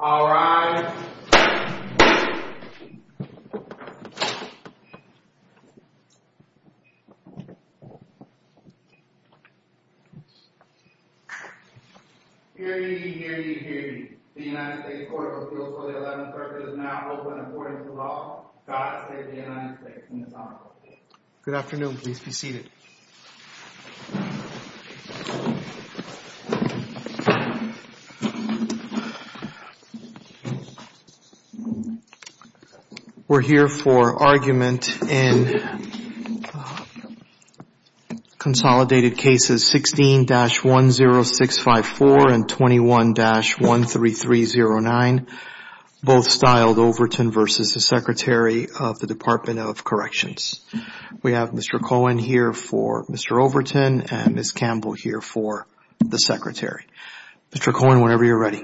All rise. Hear ye, hear ye, hear ye. The United States Court of Appeals for the 11th Circuit is now open according to law. God save the United States and His Honorable Judge. Good afternoon. Please be seated. We're here for argument in consolidated cases 16-10654 and 21-13309, both styled Overton v. Secretary of the Department of Corrections. We have Mr. Cohen here for Mr. Overton and Ms. Campbell here for the Secretary. Mr. Cohen, whenever you're ready.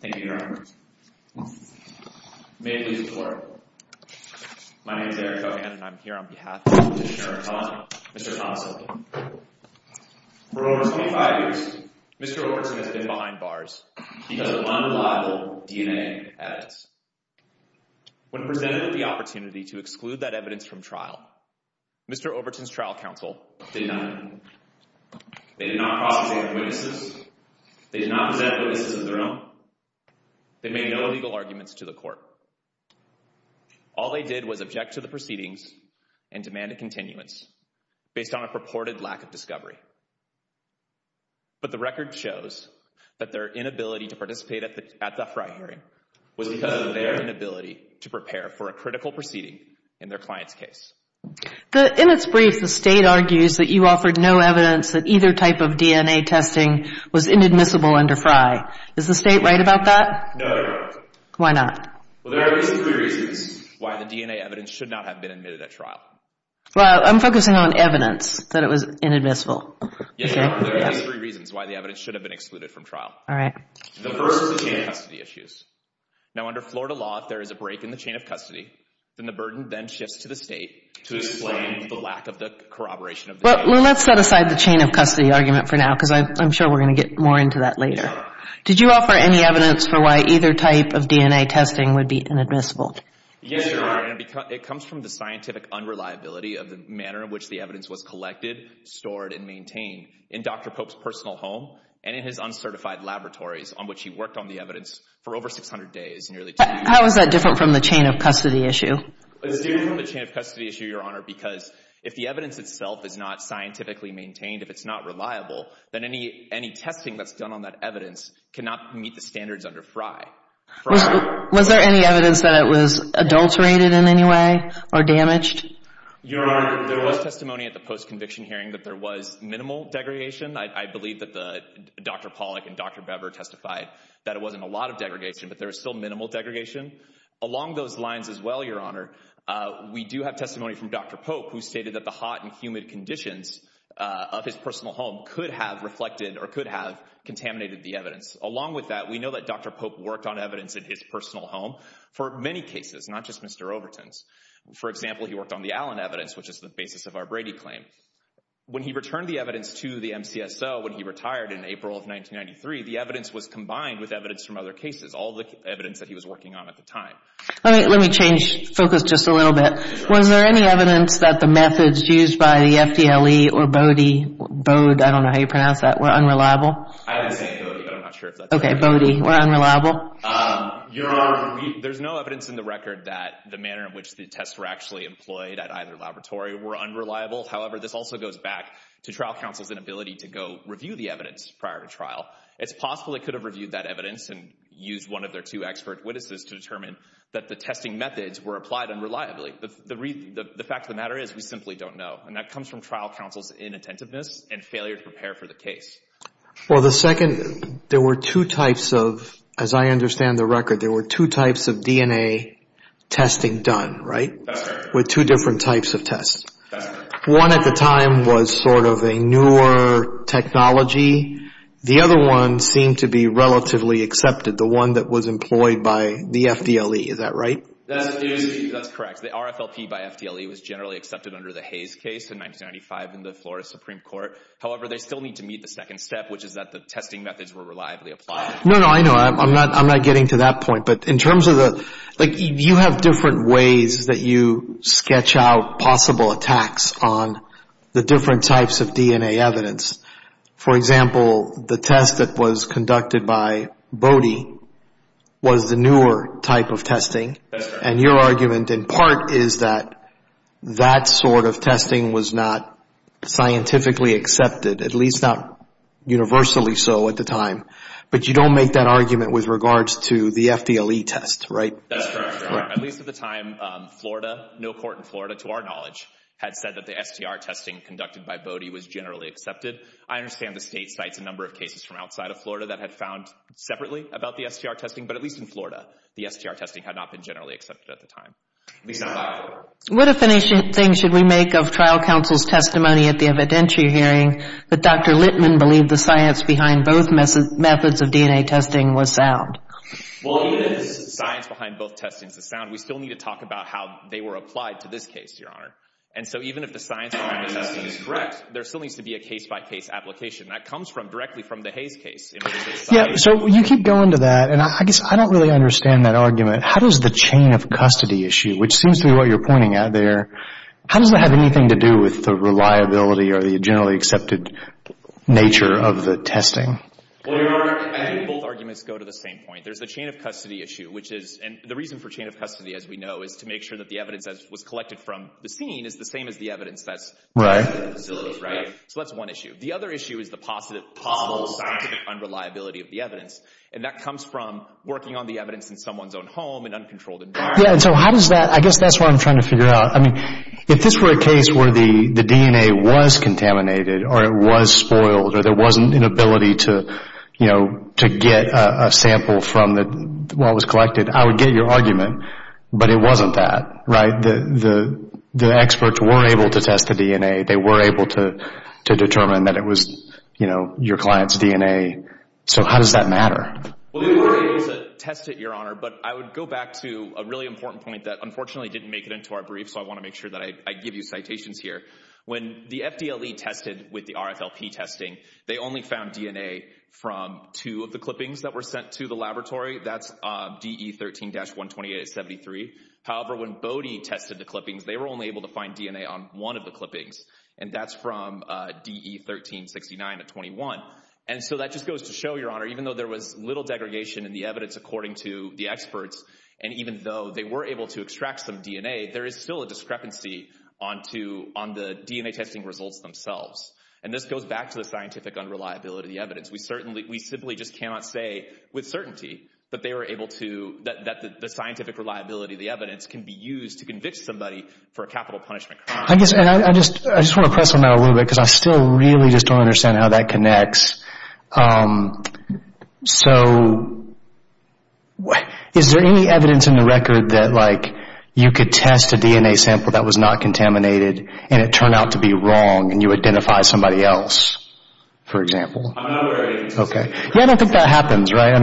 Thank you, Your Honor. May it please the Court. My name is Eric Cohen and I'm here on behalf of Mr. Thomas Overton. For over 25 years, Mr. Overton has been behind bars because of unreliable DNA evidence. When presented with the opportunity to exclude that evidence from trial, Mr. Overton's trial counsel did nothing. They did not prosecute witnesses. They did not present witnesses of their own. They made no legal arguments to the court. All they did was object to the proceedings and demanded continuance based on a purported lack of discovery. But the record shows that their inability to participate at the FRI hearing was because of their inability to prepare for a critical proceeding in their client's case. In its brief, the State argues that you offered no evidence that either type of DNA testing was inadmissible under FRI. Is the State right about that? No, Your Honor. Why not? Well, there are basically reasons why the DNA evidence should not have been admitted at trial. Well, I'm focusing on evidence that it was inadmissible. Yes, Your Honor. There are three reasons why the evidence should have been excluded from trial. All right. The first is the chain of custody issues. Now, under Florida law, if there is a break in the chain of custody, then the burden then shifts to the State to explain the lack of the corroboration of the chain. Well, let's set aside the chain of custody argument for now because I'm sure we're going to get more into that later. Did you offer any evidence for why either type of DNA testing would be inadmissible? Yes, Your Honor. It comes from the scientific unreliability of the manner in which the evidence was collected, stored, and maintained in Dr. Pope's personal home and in his uncertified laboratories on which he worked on the evidence for over 600 days, nearly two years. How is that different from the chain of custody issue? It's different from the chain of custody issue, Your Honor, because if the evidence itself is not scientifically maintained, if it's not reliable, then any testing that's done on that evidence cannot meet the standards under FRI. Was there any evidence that it was adulterated in any way or damaged? Your Honor, there was testimony at the post-conviction hearing that there was minimal degradation. I believe that Dr. Pollack and Dr. Bever testified that it wasn't a lot of degradation, but there was still minimal degradation. Along those lines as well, Your Honor, we do have testimony from Dr. Pope who stated that the hot and humid conditions of his personal home could have reflected or could have contaminated the evidence. Along with that, we know that Dr. Pope worked on evidence in his personal home for many cases, not just Mr. Overton's. For example, he worked on the Allen evidence, which is the basis of our Brady claim. When he returned the evidence to the MCSO when he retired in April of 1993, the evidence was combined with evidence from other cases, all the evidence that he was working on at the time. Let me change focus just a little bit. Was there any evidence that the methods used by the FDLE or Bode, I don't know how you pronounce that, were unreliable? I would say Bode, but I'm not sure if that's accurate. Okay, Bode, were unreliable. Your Honor, there's no evidence in the record that the manner in which the tests were actually employed at either laboratory were unreliable. However, this also goes back to trial counsel's inability to go review the evidence prior to trial. It's possible they could have reviewed that evidence and used one of their two expert witnesses to determine that the testing methods were applied unreliably. The fact of the matter is we simply don't know. And that comes from trial counsel's inattentiveness and failure to prepare for the case. Well, the second, there were two types of, as I understand the record, there were two types of DNA testing done, right? That's right. With two different types of tests. That's right. One at the time was sort of a newer technology. The other one seemed to be relatively accepted, the one that was employed by the FDLE, is that right? That's correct. The RFLP by FDLE was generally accepted under the Hayes case in 1995 in the Florida Supreme Court. However, they still need to meet the second step, which is that the testing methods were reliably applied. No, no, I know. I'm not getting to that point. But in terms of the, like you have different ways that you sketch out possible attacks on the different types of DNA evidence. For example, the test that was conducted by Bode was the newer type of testing. That's right. And your argument in part is that that sort of testing was not scientifically accepted, at least not universally so at the time. But you don't make that argument with regards to the FDLE test, right? That's correct. At least at the time, Florida, no court in Florida, to our knowledge, had said that the STR testing conducted by Bode was generally accepted. I understand the state cites a number of cases from outside of Florida that had found separately about the STR testing. But at least in Florida, the STR testing had not been generally accepted at the time, at least not by Florida. What definition should we make of trial counsel's testimony at the evidentiary hearing that Dr. Littman believed the science behind both methods of DNA testing was sound? Well, even if the science behind both testings is sound, we still need to talk about how they were applied to this case, Your Honor. And so even if the science behind the testing is correct, there still needs to be a case-by-case application. That comes directly from the Hayes case. Yeah, so you keep going to that, and I guess I don't really understand that argument. How does the chain of custody issue, which seems to be what you're pointing at there, how does that have anything to do with the reliability or the generally accepted nature of the testing? Well, Your Honor, I think both arguments go to the same point. There's the chain of custody issue, which is—and the reason for chain of custody, as we know, is to make sure that the evidence that was collected from the scene is the same as the evidence that's— Right. Right? So that's one issue. The other issue is the possible scientific unreliability of the evidence, and that comes from working on the evidence in someone's own home, an uncontrolled environment. Yeah, and so how does that—I guess that's what I'm trying to figure out. I mean, if this were a case where the DNA was contaminated or it was spoiled or there wasn't an ability to get a sample from what was collected, I would get your argument, but it wasn't that, right? The experts were able to test the DNA. They were able to determine that it was your client's DNA. So how does that matter? Well, we were able to test it, Your Honor, but I would go back to a really important point that unfortunately didn't make it into our brief, so I want to make sure that I give you citations here. When the FDLE tested with the RFLP testing, they only found DNA from two of the clippings that were sent to the laboratory. That's DE13-128 at 73. However, when Bode tested the clippings, they were only able to find DNA on one of the clippings, and that's from DE13-69 at 21. And so that just goes to show, Your Honor, even though there was little degradation in the evidence according to the experts, and even though they were able to extract some DNA, there is still a discrepancy on the DNA testing results themselves. And this goes back to the scientific unreliability of the evidence. We simply just cannot say with certainty that the scientific reliability of the evidence can be used to convict somebody for a capital punishment crime. I just want to press on that a little bit because I still really just don't understand how that connects. So is there any evidence in the record that you could test a DNA sample that was not contaminated and it turned out to be wrong and you identify somebody else, for example? I'm not aware of any. Okay. Yeah, I don't think that happens, right?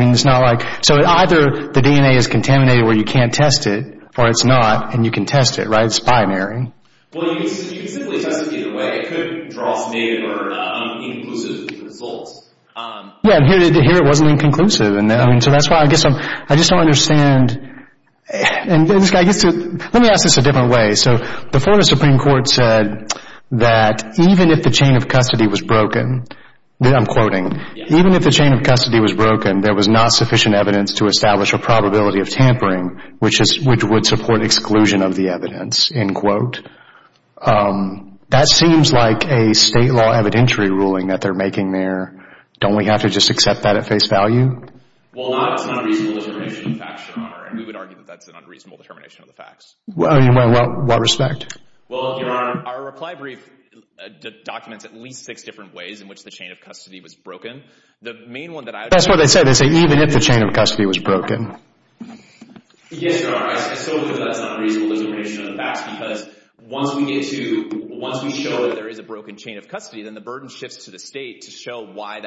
So either the DNA is contaminated where you can't test it, or it's not, and you can test it, right? It's binary. Well, you can simply test it either way. It could draw some aid or not be inclusive of the results. Yeah, and here it wasn't inconclusive. So that's why I guess I just don't understand. Let me ask this a different way. So the Florida Supreme Court said that even if the chain of custody was broken, I'm quoting, even if the chain of custody was broken, there was not sufficient evidence to establish a probability of tampering which would support exclusion of the evidence, end quote. That seems like a state law evidentiary ruling that they're making there. Don't we have to just accept that at face value? Well, it's an unreasonable determination of facts, Your Honor, and we would argue that that's an unreasonable determination of the facts. In what respect? Well, Your Honor, our reply brief documents at least six different ways in which the chain of custody was broken. That's what they say. They say even if the chain of custody was broken. Yes, Your Honor. I still think that's an unreasonable determination of the facts because once we show that there is a broken chain of custody, then the burden shifts to the state to show why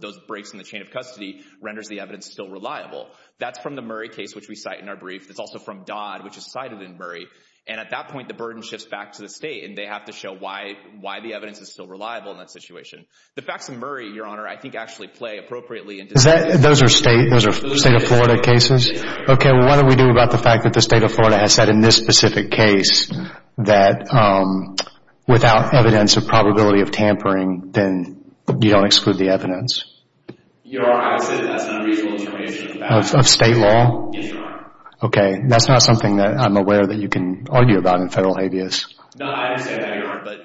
those breaks in the chain of custody renders the evidence still reliable. That's from the Murray case which we cite in our brief. It's also from Dodd which is cited in Murray. And at that point, the burden shifts back to the state, and they have to show why the evidence is still reliable in that situation. The facts in Murray, Your Honor, I think actually play appropriately. Those are state of Florida cases? Okay. What do we do about the fact that the state of Florida has said in this specific case that without evidence of probability of tampering, then you don't exclude the evidence? Your Honor, I would say that's an unreasonable determination of the facts. Of state law? Yes, Your Honor. Okay. That's not something that I'm aware that you can argue about in federal habeas. No, I understand that, Your Honor. But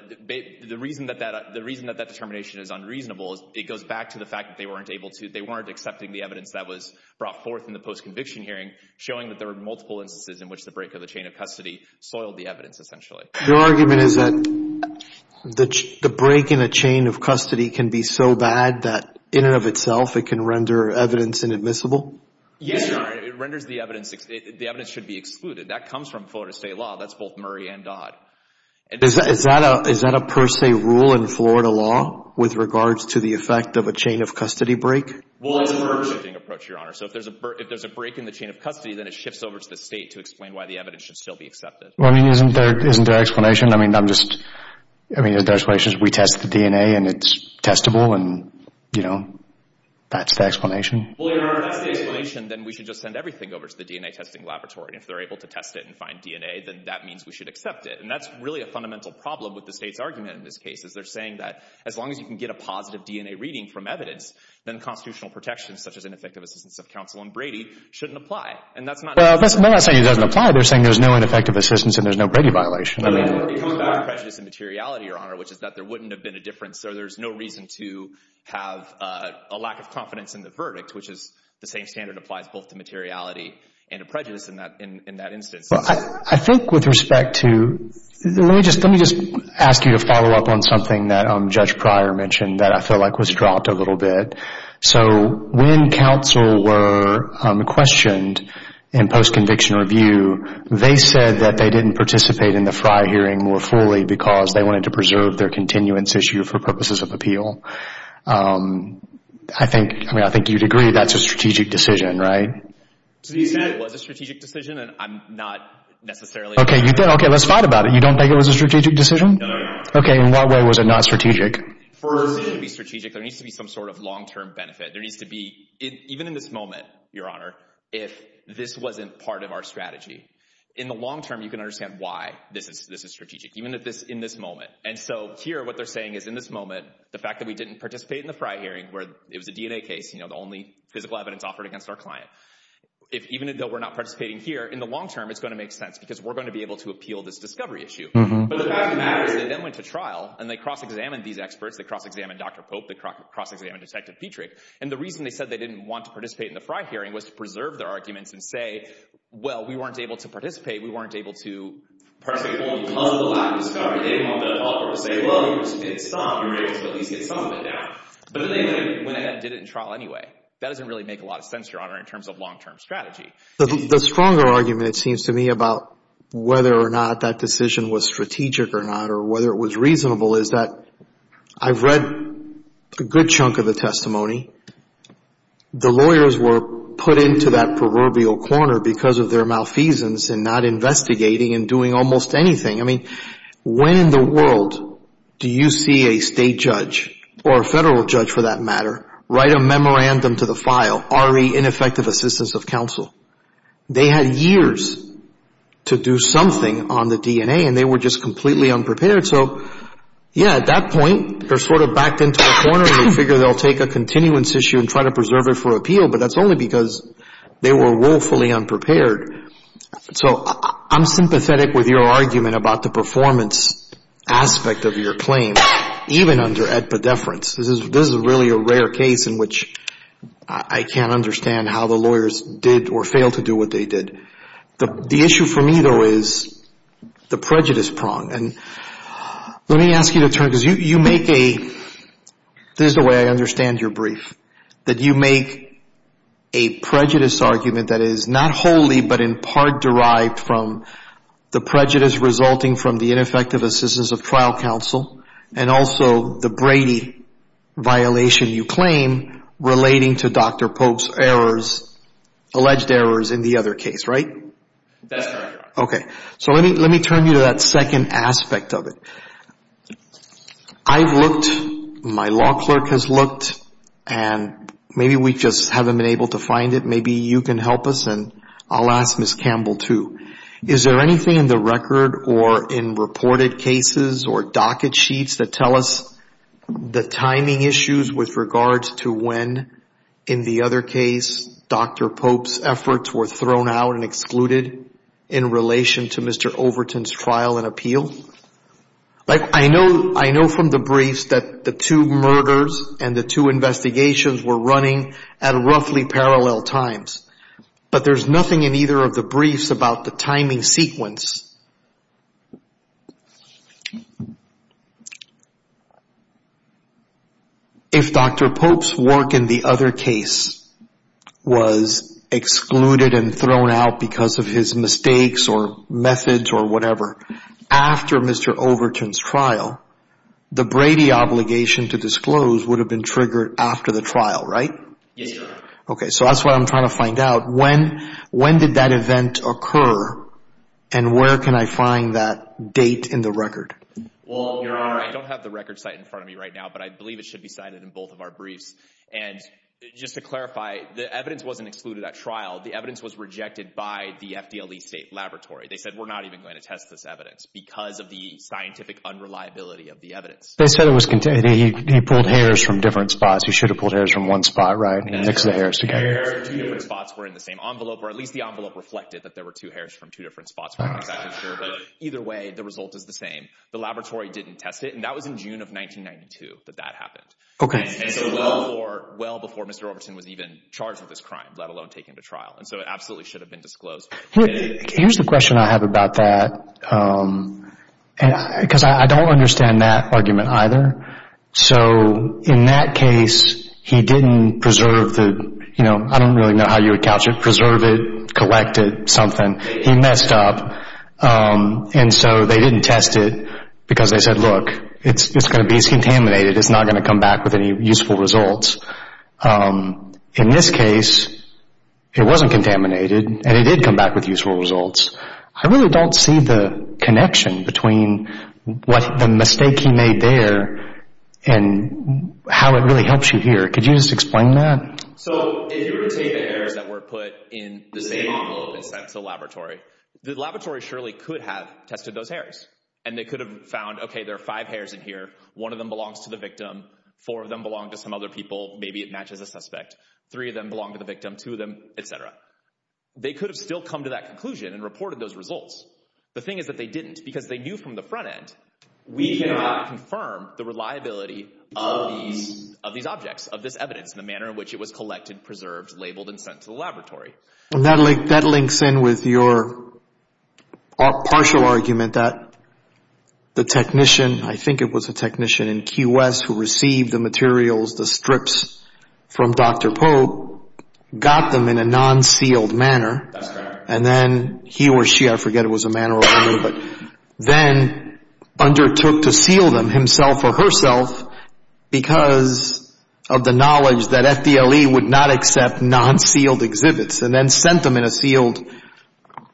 the reason that that determination is unreasonable is it goes back to the fact that they weren't accepting the evidence that was brought forth in the post-conviction hearing showing that there were multiple instances in which the break of the chain of custody soiled the evidence essentially. Your argument is that the break in a chain of custody can be so bad that in and of itself it can render evidence inadmissible? Yes, Your Honor. It renders the evidence. The evidence should be excluded. That comes from Florida state law. That's both Murray and Dodd. Is that a per se rule in Florida law with regards to the effect of a chain of custody break? Well, it's a per se approach, Your Honor. So if there's a break in the chain of custody, then it shifts over to the state to explain why the evidence should still be accepted. Well, I mean, isn't there an explanation? I mean, I'm just—I mean, the explanation is we test the DNA and it's testable and, you know, that's the explanation. Well, Your Honor, if that's the explanation, then we should just send everything over to the DNA testing laboratory. If they're able to test it and find DNA, then that means we should accept it. And that's really a fundamental problem with the state's argument in this case, is they're saying that as long as you can get a positive DNA reading from evidence, then constitutional protections, such as ineffective assistance of counsel and Brady, shouldn't apply. And that's not— Well, they're not saying it doesn't apply. They're saying there's no ineffective assistance and there's no Brady violation. No, they're talking about a prejudice in materiality, Your Honor, which is that there wouldn't have been a difference, so there's no reason to have a lack of confidence in the verdict, which is the same standard applies both to materiality and a prejudice in that instance. Well, I think with respect to—let me just ask you to follow up on something that Judge Pryor mentioned that I feel like was dropped a little bit. So when counsel were questioned in post-conviction review, they said that they didn't participate in the Frye hearing more fully because they wanted to preserve their continuance issue for purposes of appeal. I think, I mean, I think you'd agree that's a strategic decision, right? So you said it was a strategic decision, and I'm not necessarily— Okay, let's fight about it. You don't think it was a strategic decision? No, no, no. Okay, in what way was it not strategic? First— It needs to be strategic. There needs to be some sort of long-term benefit. There needs to be, even in this moment, Your Honor, if this wasn't part of our strategy. In the long term, you can understand why this is strategic, even in this moment. And so here, what they're saying is in this moment, the fact that we didn't participate in the Frye hearing where it was a DNA case, you know, the only physical evidence offered against our client. If, even though we're not participating here, in the long term, it's going to make sense because we're going to be able to appeal this discovery issue. But the fact of the matter is they then went to trial, and they cross-examined these experts. They cross-examined Dr. Pope. They cross-examined Detective Petrick. And the reason they said they didn't want to participate in the Frye hearing was to preserve their arguments and say, well, we weren't able to participate. We weren't able to participate fully because of the lack of discovery. They didn't want the public to say, well, you just didn't stop. You were able to at least get some of it down. But then they went ahead and did it in trial anyway. That doesn't really make a lot of sense, Your Honor, in terms of long-term strategy. The stronger argument, it seems to me, about whether or not that decision was strategic or not or whether it was reasonable is that I've read a good chunk of the testimony. The lawyers were put into that proverbial corner because of their malfeasance in not investigating and doing almost anything. I mean, when in the world do you see a state judge or a federal judge, for that matter, write a memorandum to the file, RE, Ineffective Assistance of Counsel? They had years to do something on the DNA, and they were just completely unprepared. So, yeah, at that point, they're sort of backed into a corner, and they figure they'll take a continuance issue and try to preserve it for appeal, but that's only because they were woefully unprepared. So I'm sympathetic with your argument about the performance aspect of your claim, even under epidefference. This is really a rare case in which I can't understand how the lawyers did or failed to do what they did. The issue for me, though, is the prejudice prong. And let me ask you to turn, because you make a – this is the way I understand your brief, that you make a prejudice argument that is not wholly but in part derived from the prejudice resulting from the ineffective assistance of trial counsel and also the Brady violation you claim relating to Dr. Polk's errors, alleged errors in the other case, right? That's right. Okay. So let me turn you to that second aspect of it. I've looked, my law clerk has looked, and maybe we just haven't been able to find it. Maybe you can help us, and I'll ask Ms. Campbell, too. Is there anything in the record or in reported cases or docket sheets that tell us the timing issues with regards to when, in the other case, Dr. Polk's efforts were thrown out and excluded in relation to Mr. Overton's trial and appeal? I know from the briefs that the two murders and the two investigations were running at roughly parallel times, but there's nothing in either of the briefs about the timing sequence. If Dr. Polk's work in the other case was excluded and thrown out because of his mistakes or methods or whatever after Mr. Overton's trial, the Brady obligation to disclose would have been triggered after the trial, right? Yes, sir. Okay. So that's what I'm trying to find out. When did that event occur, and where can I find that date in the record? Well, Your Honor, I don't have the record site in front of me right now, but I believe it should be cited in both of our briefs. And just to clarify, the evidence wasn't excluded at trial. The evidence was rejected by the FDLE State Laboratory. They said, we're not even going to test this evidence because of the scientific unreliability of the evidence. They said it was contained. He pulled hairs from different spots. He should have pulled hairs from one spot, right? He mixed the hairs together. The hairs from two different spots were in the same envelope, or at least the envelope reflected that there were two hairs from two different spots. We're not exactly sure, but either way, the result is the same. The laboratory didn't test it, and that was in June of 1992 that that happened. Okay. And so well before Mr. Overton was even charged with this crime, let alone taken to trial. And so it absolutely should have been disclosed. Here's the question I have about that, because I don't understand that argument either. So in that case, he didn't preserve the, you know, I don't really know how you would couch it, preserve it, collect it, something. He messed up. And so they didn't test it because they said, look, it's going to be contaminated. It's not going to come back with any useful results. In this case, it wasn't contaminated, and it did come back with useful results. I really don't see the connection between the mistake he made there and how it really helps you here. Could you just explain that? So if you were to take the hairs that were put in the same envelope and sent to the laboratory, the laboratory surely could have tested those hairs, and they could have found, okay, there are five hairs in here. One of them belongs to the victim. Four of them belong to some other people. Maybe it matches a suspect. Three of them belong to the victim. Two of them, et cetera. They could have still come to that conclusion and reported those results. The thing is that they didn't because they knew from the front end, we cannot confirm the reliability of these objects, of this evidence, and the manner in which it was collected, preserved, labeled, and sent to the laboratory. And that links in with your partial argument that the technician, I think it was a technician in QS who received the materials, the strips from Dr. Pope, got them in a non-sealed manner. That's correct. And then he or she, I forget it was a man or a woman, but then undertook to seal them himself or herself because of the knowledge that FDLE would not accept non-sealed exhibits and then sent them in a sealed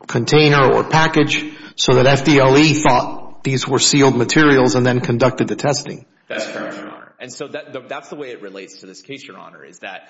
container or package so that FDLE thought these were sealed materials and then conducted the testing. That's correct, Your Honor. And so that's the way it relates to this case, Your Honor, is that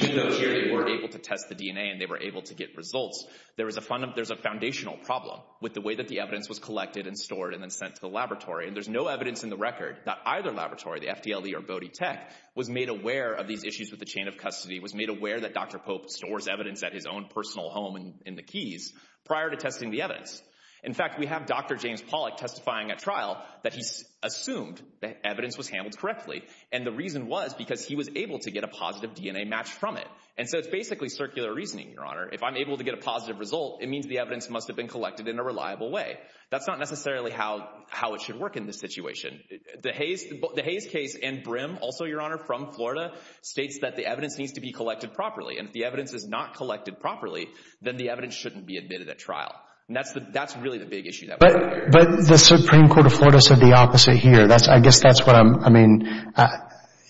even though here they were able to test the DNA and they were able to get results, there's a foundational problem with the way that the evidence was collected and stored and then sent to the laboratory. And there's no evidence in the record that either laboratory, the FDLE or Bode Tech, was made aware of these issues with the chain of custody, was made aware that Dr. Pope stores evidence at his own personal home in the Keys prior to testing the evidence. In fact, we have Dr. James Pollack testifying at trial that he assumed that evidence was handled correctly. And the reason was because he was able to get a positive DNA match from it. And so it's basically circular reasoning, Your Honor. If I'm able to get a positive result, it means the evidence must have been collected in a reliable way. That's not necessarily how it should work in this situation. The Hayes case and Brim, also, Your Honor, from Florida, states that the evidence needs to be collected properly. And if the evidence is not collected properly, then the evidence shouldn't be admitted at trial. And that's really the big issue. But the Supreme Court of Florida said the opposite here. I guess that's what I'm, I mean,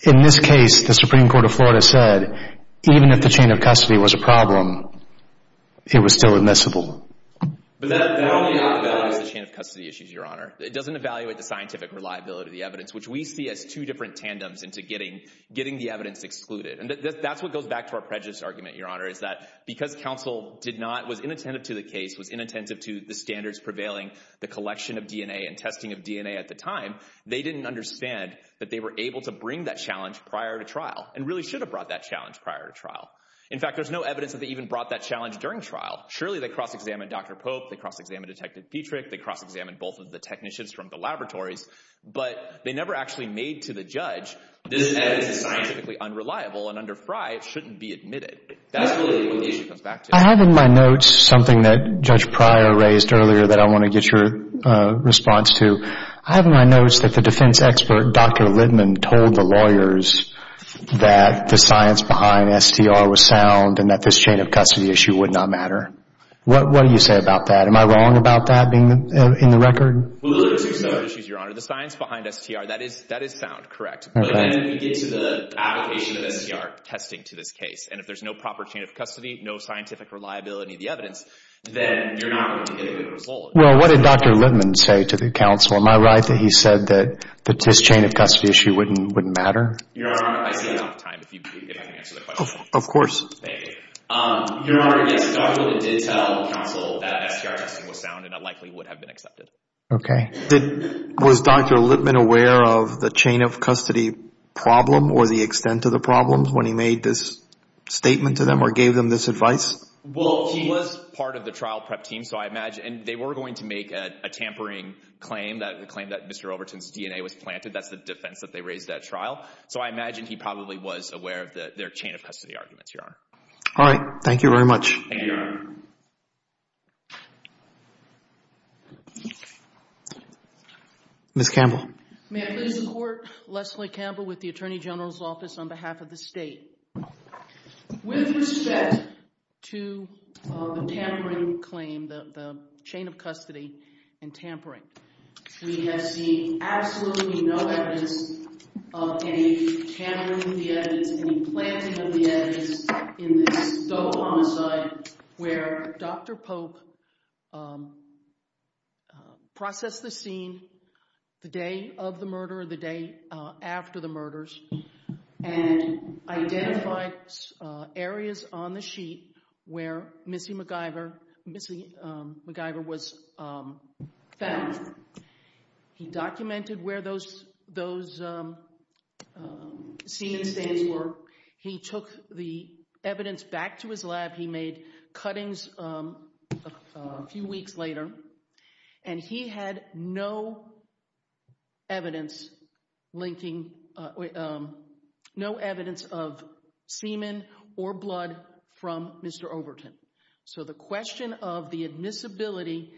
in this case, the Supreme Court of Florida said, even if the chain of custody was a problem, it was still admissible. But that only evaluates the chain of custody issues, Your Honor. It doesn't evaluate the scientific reliability of the evidence, which we see as two different tandems into getting the evidence excluded. And that's what goes back to our prejudice argument, Your Honor, is that because counsel did not, was inattentive to the case, was inattentive to the standards prevailing, the collection of DNA and testing of DNA at the time, they didn't understand that they were able to bring that challenge prior to trial and really should have brought that challenge prior to trial. In fact, there's no evidence that they even brought that challenge during trial. Surely they cross-examined Dr. Pope, they cross-examined Detective Petrick, they cross-examined both of the technicians from the laboratories, but they never actually made to the judge, this evidence is scientifically unreliable and under Fry it shouldn't be admitted. That's really what the issue comes back to. I have in my notes something that Judge Pryor raised earlier that I want to get your response to. I have in my notes that the defense expert, Dr. Littman, told the lawyers that the science behind STR was sound and that this chain of custody issue would not matter. What do you say about that? Am I wrong about that being in the record? Well, those are two separate issues, Your Honor. The science behind STR, that is sound, correct. But again, we get to the application of STR testing to this case. And if there's no proper chain of custody, no scientific reliability of the evidence, then you're not going to get a good result. Well, what did Dr. Littman say to the counsel? Am I right that he said that this chain of custody issue wouldn't matter? Your Honor, I see you're out of time. If I can answer the question. Of course. Thank you. Your Honor, yes, Dr. Littman did tell counsel that STR testing was sound and unlikely would have been accepted. Okay. Was Dr. Littman aware of the chain of custody problem or the extent of the problem when he made this statement to them or gave them this advice? Well, he was part of the trial prep team, so I imagine they were going to make a tampering claim, the claim that Mr. Overton's DNA was planted. That's the defense that they raised at trial. So I imagine he probably was aware of their chain of custody arguments, Your Honor. All right. Thank you very much. Thank you, Your Honor. Ms. Campbell. May it please the Court, Leslie Campbell with the Attorney General's Office on behalf of the state. With respect to the tampering claim, the chain of custody and tampering, we have seen absolutely no evidence of any tampering of the evidence, any planting of the evidence in this double homicide where Dr. Pope processed the scene the day of the murder or the day after the murders and identified areas on the sheet where Missy MacGyver was found. He documented where those scene stains were. He took the evidence back to his lab. He made cuttings a few weeks later, and he had no evidence of semen or blood from Mr. Overton. So the question of the admissibility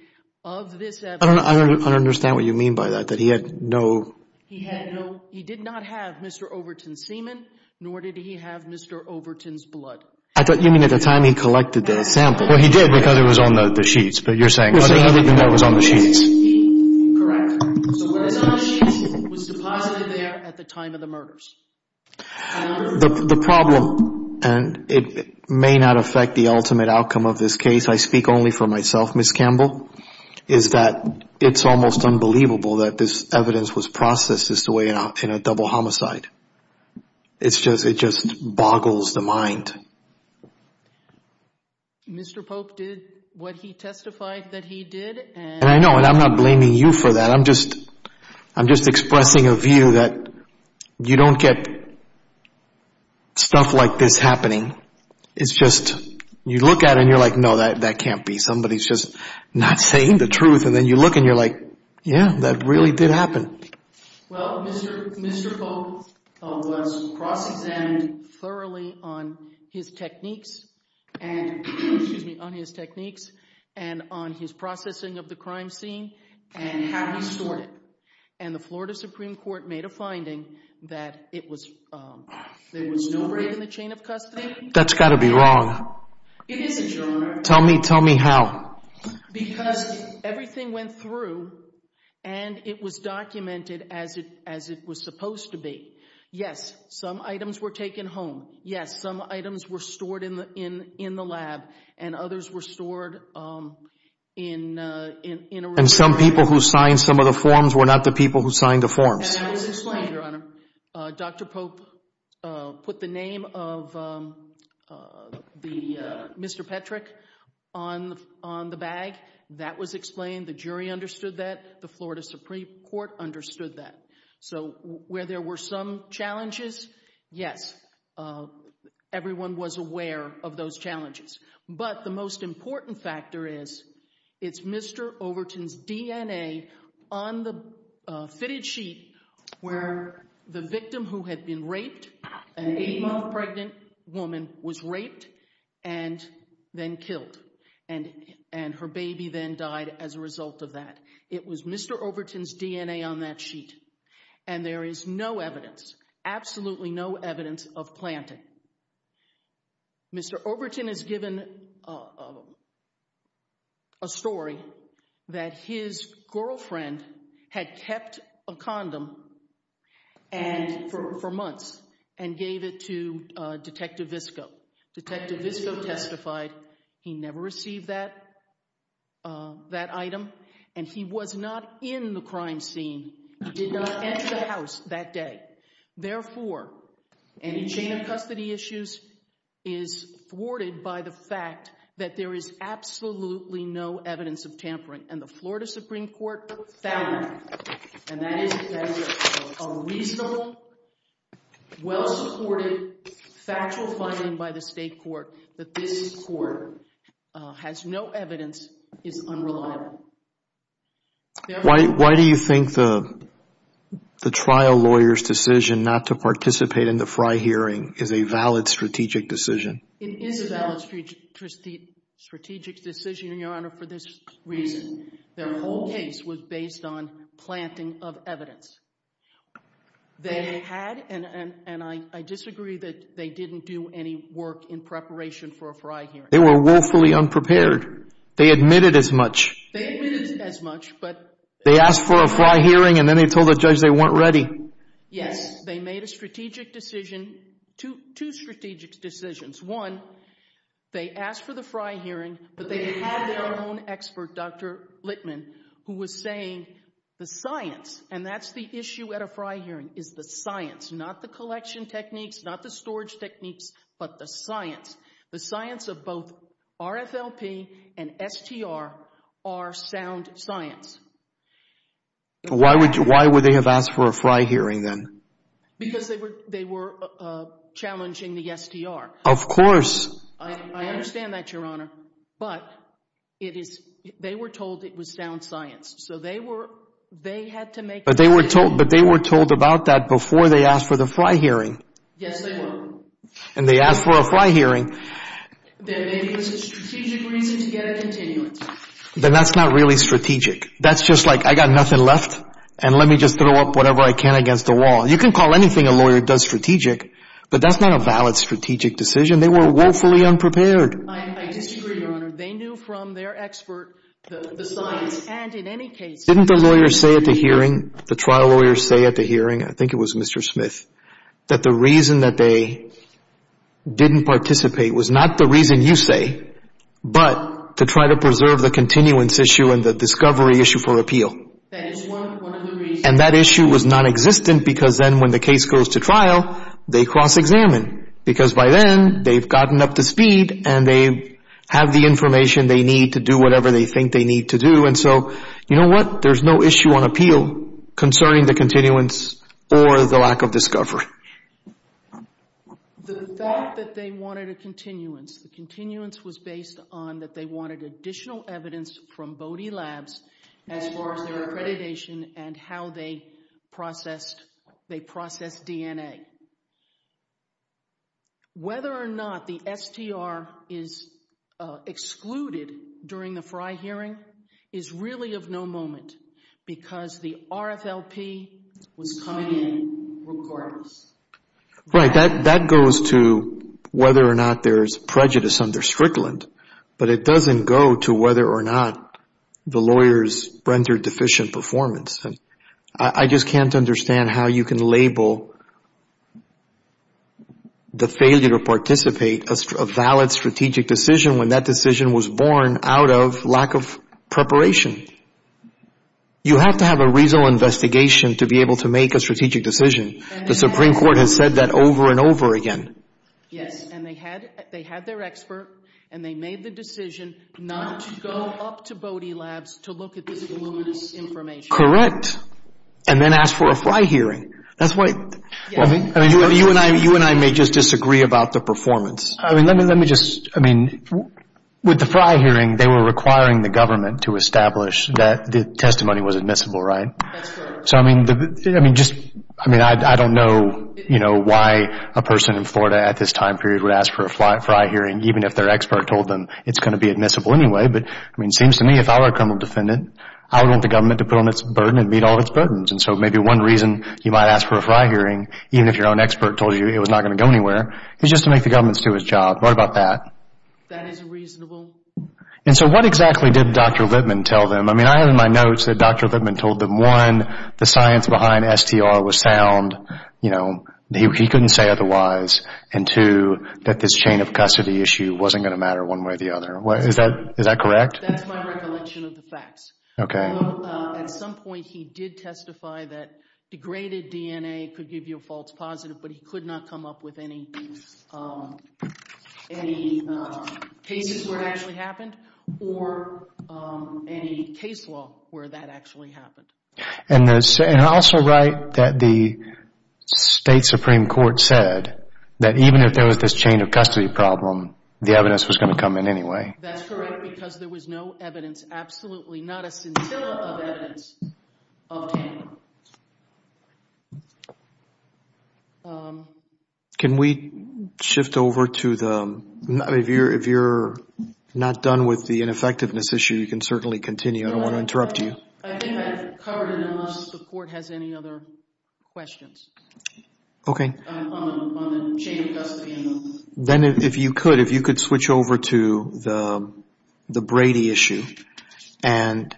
of this evidence... I don't understand what you mean by that, that he had no... He did not have Mr. Overton's semen, nor did he have Mr. Overton's blood. You mean at the time he collected the sample? Well, he did because it was on the sheets, but you're saying other than that it was on the sheets. Correct. So it was on the sheets. It was deposited there at the time of the murders. The problem, and it may not affect the ultimate outcome of this case, I speak only for myself, Ms. Campbell, is that it's almost unbelievable that this evidence was processed this way in a double homicide. It just boggles the mind. Mr. Pope did what he testified that he did. And I know, and I'm not blaming you for that. I'm just expressing a view that you don't get stuff like this happening. It's just you look at it and you're like, no, that can't be. Somebody's just not saying the truth. And then you look and you're like, yeah, that really did happen. Well, Mr. Pope was cross-examined thoroughly on his techniques and on his processing of the crime scene and how he stored it. And the Florida Supreme Court made a finding that there was no break in the chain of custody. That's got to be wrong. It is, Your Honor. Tell me how. Because everything went through and it was documented as it was supposed to be. Yes, some items were taken home. Yes, some items were stored in the lab and others were stored in a reserve. And some people who signed some of the forms were not the people who signed the forms. That was explained, Your Honor. Dr. Pope put the name of Mr. Petrick on the bag. That was explained. The jury understood that. The Florida Supreme Court understood that. So where there were some challenges, yes, everyone was aware of those challenges. But the most important factor is, it's Mr. Overton's DNA on the fitted sheet where the victim who had been raped, an eight-month pregnant woman, was raped and then killed. And her baby then died as a result of that. It was Mr. Overton's DNA on that sheet. And there is no evidence, absolutely no evidence of planting. Mr. Overton is given a story that his girlfriend had kept a condom for months and gave it to Detective Visco. Detective Visco testified he never received that item and he was not in the crime scene. He did not enter the house that day. Therefore, any chain of custody issues is thwarted by the fact that there is absolutely no evidence of tampering. And the Florida Supreme Court found that. And that is a reasonable, well-supported, factual finding by the state court that this court has no evidence, is unreliable. Why do you think the trial lawyer's decision not to participate in the Fry hearing is a valid strategic decision? It is a valid strategic decision, Your Honor, for this reason. Their whole case was based on planting of evidence. They had, and I disagree that they didn't do any work in preparation for a Fry hearing. They were woefully unprepared. They admitted as much. They admitted as much, but They asked for a Fry hearing and then they told the judge they weren't ready. Yes, they made a strategic decision, two strategic decisions. One, they asked for the Fry hearing, but they had their own expert, Dr. Littman, who was saying the science, and that's the issue at a Fry hearing, is the science, not the collection techniques, not the storage techniques, but the science. The science of both RFLP and STR are sound science. Why would they have asked for a Fry hearing then? Because they were challenging the STR. Of course. I understand that, Your Honor. But they were told it was sound science, so they had to make a decision. But they were told about that before they asked for the Fry hearing. Yes, they were. And they asked for a Fry hearing. Then maybe it was a strategic reason to get a continuance. Then that's not really strategic. That's just like, I got nothing left, and let me just throw up whatever I can against the wall. You can call anything a lawyer does strategic, but that's not a valid strategic decision. They were woefully unprepared. I disagree, Your Honor. They knew from their expert the science. And in any case, Didn't the lawyers say at the hearing, the trial lawyers say at the hearing, I think it was Mr. Smith, that the reason that they didn't participate was not the reason you say, but to try to preserve the continuance issue and the discovery issue for appeal. That is one of the reasons. And that issue was nonexistent because then when the case goes to trial, they cross-examine. Because by then, they've gotten up to speed, and they have the information they need to do whatever they think they need to do. And so, you know what? There's no issue on appeal concerning the continuance or the lack of discovery. The fact that they wanted a continuance, the continuance was based on that they wanted additional evidence from Bode Labs as far as their accreditation and how they processed DNA. Whether or not the STR is excluded during the Frey hearing is really of no moment because the RFLP was coming in regardless. Right. That goes to whether or not there's prejudice under Strickland, but it doesn't go to whether or not the lawyers rendered deficient performance. I just can't understand how you can label the failure to participate a valid strategic decision when that decision was born out of lack of preparation. You have to have a reasonable investigation to be able to make a strategic decision. The Supreme Court has said that over and over again. Yes, and they had their expert, and they made the decision not to go up to Bode Labs to look at this voluminous information. Correct, and then ask for a Frey hearing. That's why you and I may just disagree about the performance. Let me just, I mean, with the Frey hearing, they were requiring the government to establish that the testimony was admissible, right? That's correct. So, I mean, I don't know why a person in Florida at this time period would ask for a Frey hearing even if their expert told them it's going to be admissible anyway. But, I mean, it seems to me if I were a criminal defendant, I would want the government to put on its burden and meet all of its burdens. And so maybe one reason you might ask for a Frey hearing, even if your own expert told you it was not going to go anywhere, is just to make the government do its job. What about that? That is reasonable. And so what exactly did Dr. Lipman tell them? I mean, I have in my notes that Dr. Lipman told them, one, the science behind Str was sound, you know, he couldn't say otherwise. And two, that this chain of custody issue wasn't going to matter one way or the other. Is that correct? That's my recollection of the facts. Okay. At some point he did testify that degraded DNA could give you a false positive, but he could not come up with any cases where it actually happened or any case law where that actually happened. And I also write that the State Supreme Court said that even if there was this chain of custody problem, the evidence was going to come in anyway. That's correct because there was no evidence, absolutely not a scintilla of evidence of tampering. Can we shift over to the, if you're not done with the ineffectiveness issue, you can certainly continue. I don't want to interrupt you. I think I've covered enough unless the Court has any other questions. Okay. On the chain of custody. Then if you could, if you could switch over to the Brady issue. And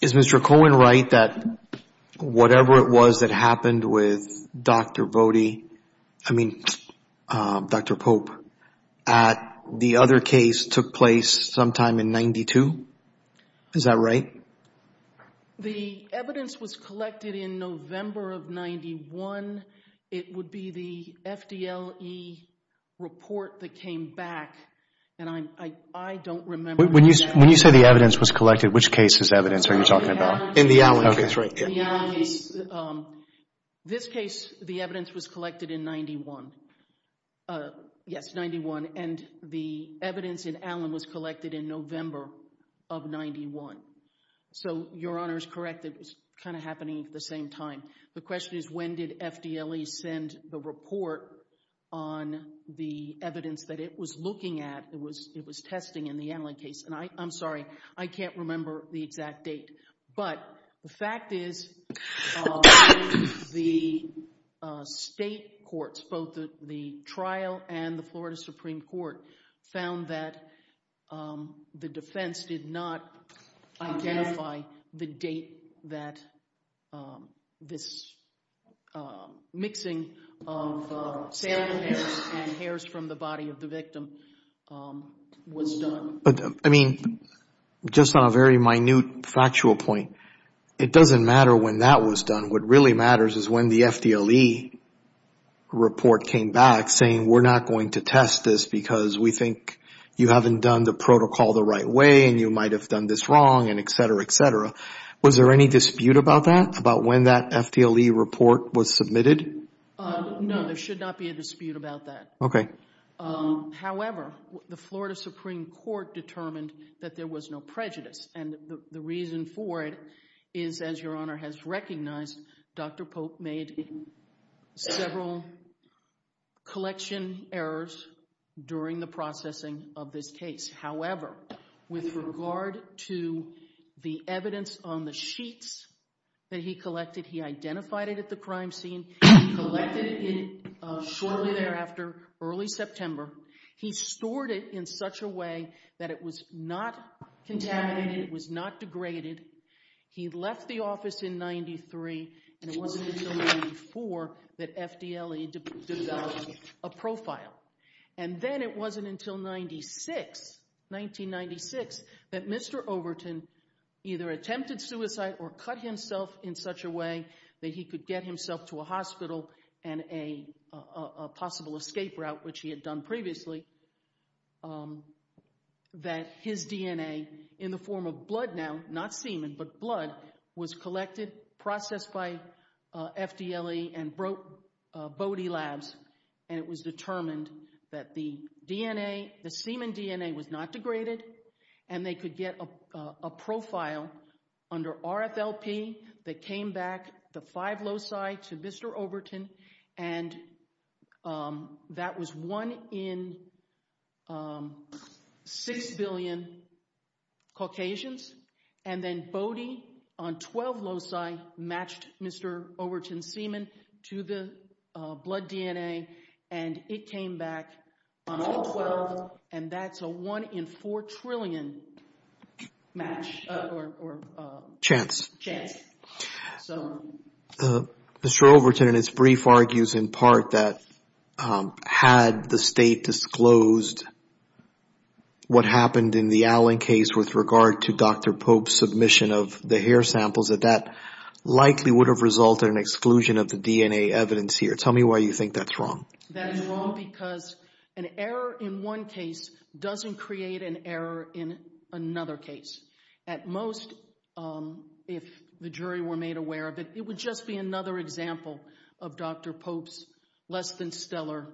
is Mr. Cohen right that whatever it was that happened with Dr. Voti, I mean, Dr. Pope, that the other case took place sometime in 92? Is that right? The evidence was collected in November of 91. It would be the FDLE report that came back, and I don't remember. When you say the evidence was collected, which case is evidence are you talking about? In the Allen case. Okay, that's right. In the Allen case. This case, the evidence was collected in 91. Yes, 91. And the evidence in Allen was collected in November of 91. So your Honor is correct. It was kind of happening at the same time. The question is when did FDLE send the report on the evidence that it was looking at, it was testing in the Allen case. And I'm sorry, I can't remember the exact date. But the fact is the state courts, both the trial and the Florida Supreme Court, found that the defense did not identify the date that this mixing of salmon hairs and hairs from the body of the victim was done. I mean, just on a very minute factual point, it doesn't matter when that was done. What really matters is when the FDLE report came back saying we're not going to test this because we think you haven't done the protocol the right way and you might have done this wrong and et cetera, et cetera. Was there any dispute about that, about when that FDLE report was submitted? No, there should not be a dispute about that. Okay. However, the Florida Supreme Court determined that there was no prejudice. And the reason for it is, as Your Honor has recognized, Dr. Pope made several collection errors during the processing of this case. However, with regard to the evidence on the sheets that he collected, he identified it at the crime scene. He collected it shortly thereafter, early September. He stored it in such a way that it was not contaminated, it was not degraded. He left the office in 1993, and it wasn't until 1994 that FDLE developed a profile. And then it wasn't until 1996 that Mr. Overton either attempted suicide or cut himself in such a way that he could get himself to a hospital and a possible escape route, which he had done previously, that his DNA, in the form of blood now, not semen, but blood, was collected, processed by FDLE, and brought to Bode Labs. And it was determined that the DNA, the semen DNA, was not degraded and they could get a profile under RFLP that came back the five loci to Mr. Overton, and that was one in six billion Caucasians. And then Bode, on 12 loci, matched Mr. Overton's semen to the blood DNA, and it came back on all 12, and that's a one in four trillion match or chance. Mr. Overton, in his brief, argues in part that had the state disclosed what happened in the Allen case with regard to Dr. Pope's submission of the hair samples, that that likely would have resulted in exclusion of the DNA evidence here. Tell me why you think that's wrong. That's wrong because an error in one case doesn't create an error in another case. At most, if the jury were made aware of it, it would just be another example of Dr. Pope's less than stellar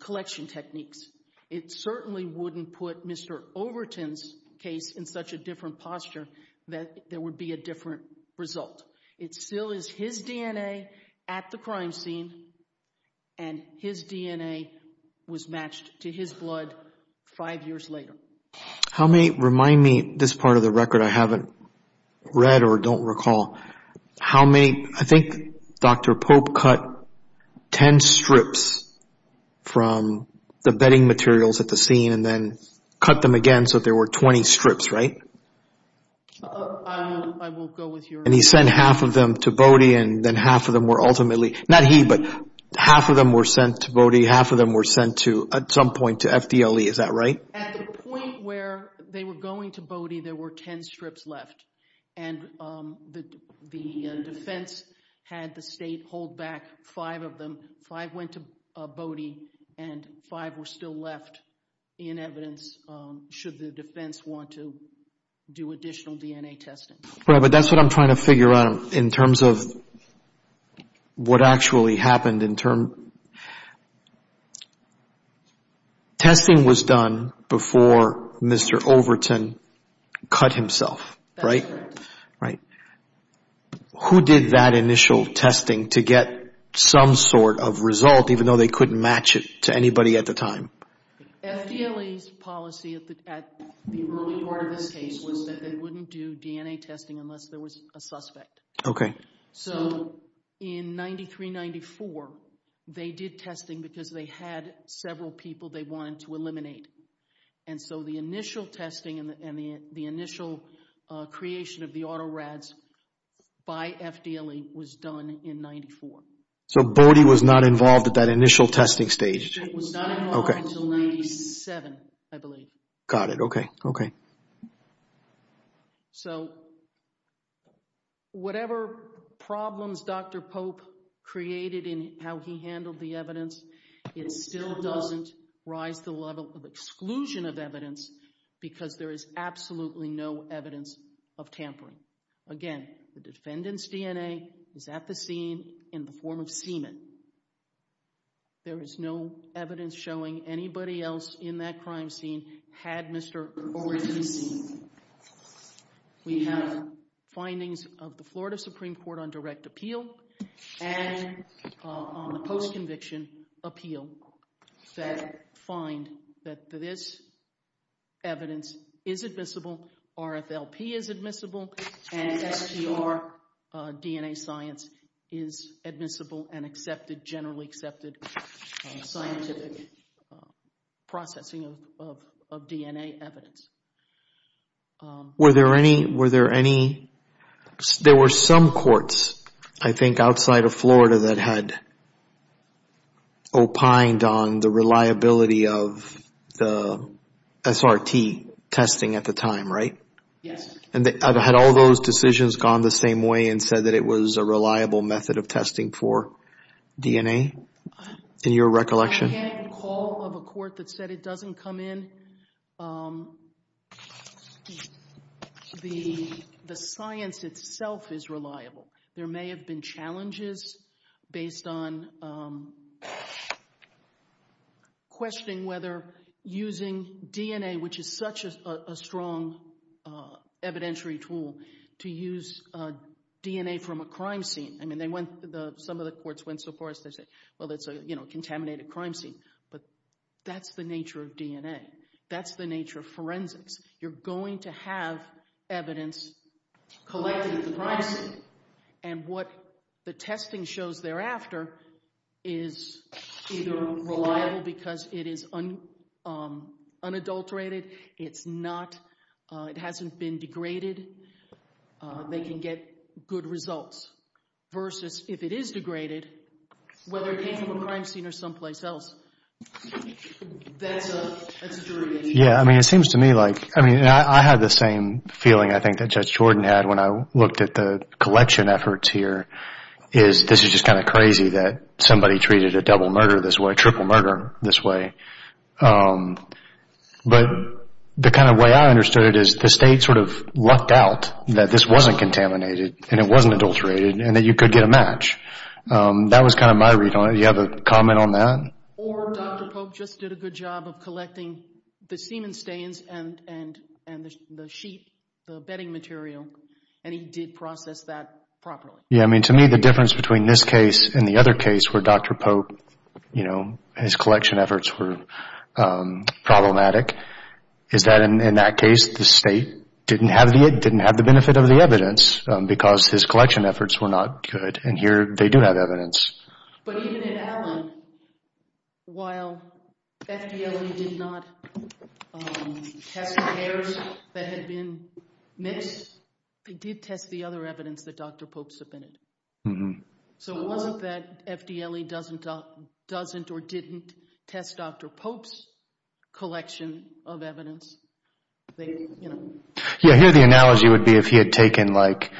collection techniques. It certainly wouldn't put Mr. Overton's case in such a different posture that there would be a different result. It still is his DNA at the crime scene, and his DNA was matched to his blood five years later. How many—remind me, this part of the record I haven't read or don't recall, how many—I think Dr. Pope cut ten strips from the bedding materials at the scene and then cut them again so there were 20 strips, right? I will go with your— And he sent half of them to Bode, and then half of them were ultimately— not he, but half of them were sent to Bode, half of them were sent to, at some point, to FDLE. Is that right? At the point where they were going to Bode, there were ten strips left, and the defense had the state hold back five of them. Five went to Bode, and five were still left in evidence should the defense want to do additional DNA testing. Right, but that's what I'm trying to figure out in terms of what actually happened. Testing was done before Mr. Overton cut himself, right? That's correct. Who did that initial testing to get some sort of result, even though they couldn't match it to anybody at the time? FDLE's policy at the early part of this case was that they wouldn't do DNA testing unless there was a suspect. So in 93-94, they did testing because they had several people they wanted to eliminate. And so the initial testing and the initial creation of the autorads by FDLE was done in 94. So Bode was not involved at that initial testing stage? It was not involved until 97, I believe. Got it. Okay. So whatever problems Dr. Pope created in how he handled the evidence, it still doesn't rise to the level of exclusion of evidence because there is absolutely no evidence of tampering. Again, the defendant's DNA is at the scene in the form of semen. There is no evidence showing anybody else in that crime scene had Mr. Overton seen. We have findings of the Florida Supreme Court on direct appeal and on the post-conviction appeal that find that this evidence is admissible, RFLP is admissible, and SGR DNA science is admissible and accepted, generally accepted scientific processing of DNA evidence. Were there any, were there any, there were some courts I think outside of Florida that had opined on the reliability of the SRT testing at the time, right? Yes. And had all those decisions gone the same way and said that it was a reliable method of testing for DNA in your recollection? I can't recall of a court that said it doesn't come in. The science itself is reliable. There may have been challenges based on questioning whether using DNA, which is such a strong evidentiary tool, to use DNA from a crime scene. I mean, they went, some of the courts went so far as to say, well, it's a, you know, contaminated crime scene. But that's the nature of DNA. That's the nature of forensics. You're going to have evidence collected at the crime scene. And what the testing shows thereafter is either reliable because it is unadulterated, it's not, it hasn't been degraded, they can get good results. Versus if it is degraded, whether it came from a crime scene or someplace else, that's a jury decision. Yeah, I mean, it seems to me like, I mean, I had the same feeling, I think, that Judge Jordan had when I looked at the collection efforts here, is this is just kind of crazy that somebody treated a double murder this way, triple murder this way. But the kind of way I understood it is the state sort of lucked out that this wasn't contaminated and it wasn't adulterated and that you could get a match. That was kind of my read on it. Do you have a comment on that? Or Dr. Pope just did a good job of collecting the semen stains and the sheet, the bedding material, and he did process that properly. Yeah, I mean, to me the difference between this case and the other case where Dr. Pope, you know, his collection efforts were problematic, is that in that case the state didn't have the benefit of the evidence because his collection efforts were not good. And here they do have evidence. But even in Allen, while FDLE did not test the hairs that had been missed, they did test the other evidence that Dr. Pope submitted. So it wasn't that FDLE doesn't or didn't test Dr. Pope's collection of evidence. Yeah, here the analogy would be if he had taken, like,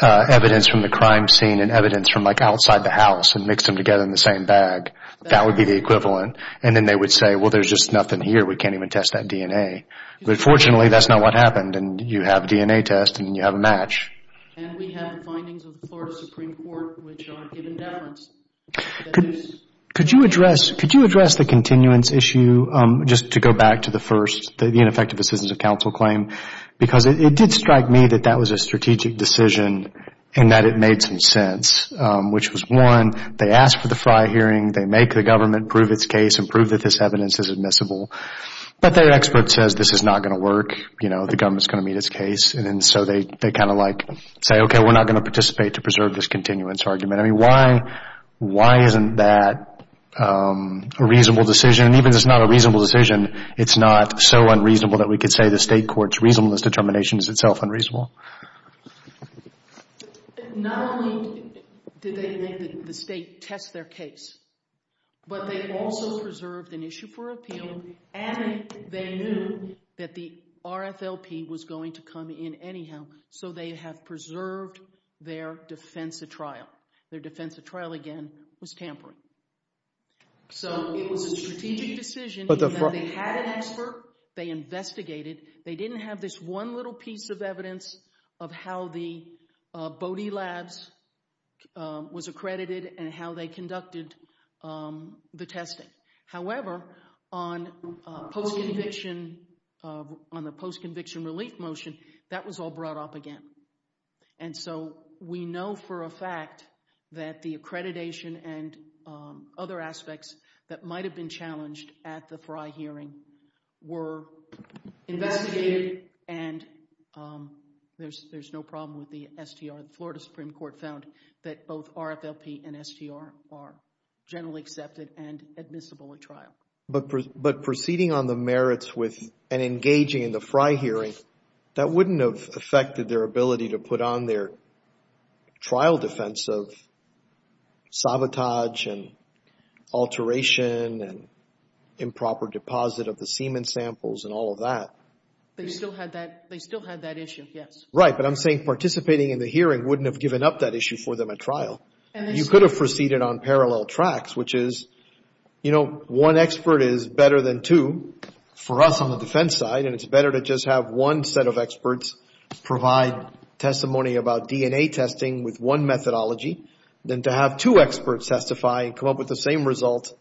evidence from the crime scene and evidence from, like, outside the house and mixed them together in the same bag, that would be the equivalent. And then they would say, well, there's just nothing here. We can't even test that DNA. But fortunately, that's not what happened, and you have a DNA test and you have a match. And we have the findings of the Florida Supreme Court, which aren't given balance. Could you address the continuance issue, just to go back to the first, the ineffective assistance of counsel claim? Because it did strike me that that was a strategic decision and that it made some sense, which was, one, they asked for the FRI hearing, they make the government prove its case and prove that this evidence is admissible. But their expert says this is not going to work, you know, the government is going to meet its case. And so they kind of, like, say, okay, we're not going to participate to preserve this continuance argument. I mean, why isn't that a reasonable decision? And even if it's not a reasonable decision, it's not so unreasonable that we could say the state court's reasonableness determination is itself unreasonable? Not only did they make the state test their case, but they also preserved an issue for appeal, and they knew that the RFLP was going to come in anyhow, so they have preserved their defense of trial. Their defense of trial, again, was tampering. So it was a strategic decision in that they had an expert, they investigated, they didn't have this one little piece of evidence of how the Bode Labs was accredited and how they conducted the testing. However, on the post-conviction relief motion, that was all brought up again. And so we know for a fact that the accreditation and other aspects that might have been challenged at the Frey hearing were investigated, and there's no problem with the STR. The Florida Supreme Court found that both RFLP and STR are generally accepted and admissible at trial. But proceeding on the merits with and engaging in the Frey hearing, that wouldn't have affected their ability to put on their trial defense of sabotage and alteration and improper deposit of the semen samples and all of that. They still had that issue, yes. Right, but I'm saying participating in the hearing wouldn't have given up that issue for them at trial. You could have proceeded on parallel tracks, which is, you know, one expert is better than two for us on the defense side, and it's better to just have one set of experts provide testimony about DNA testing with one methodology than to have two experts testify and come up with the same result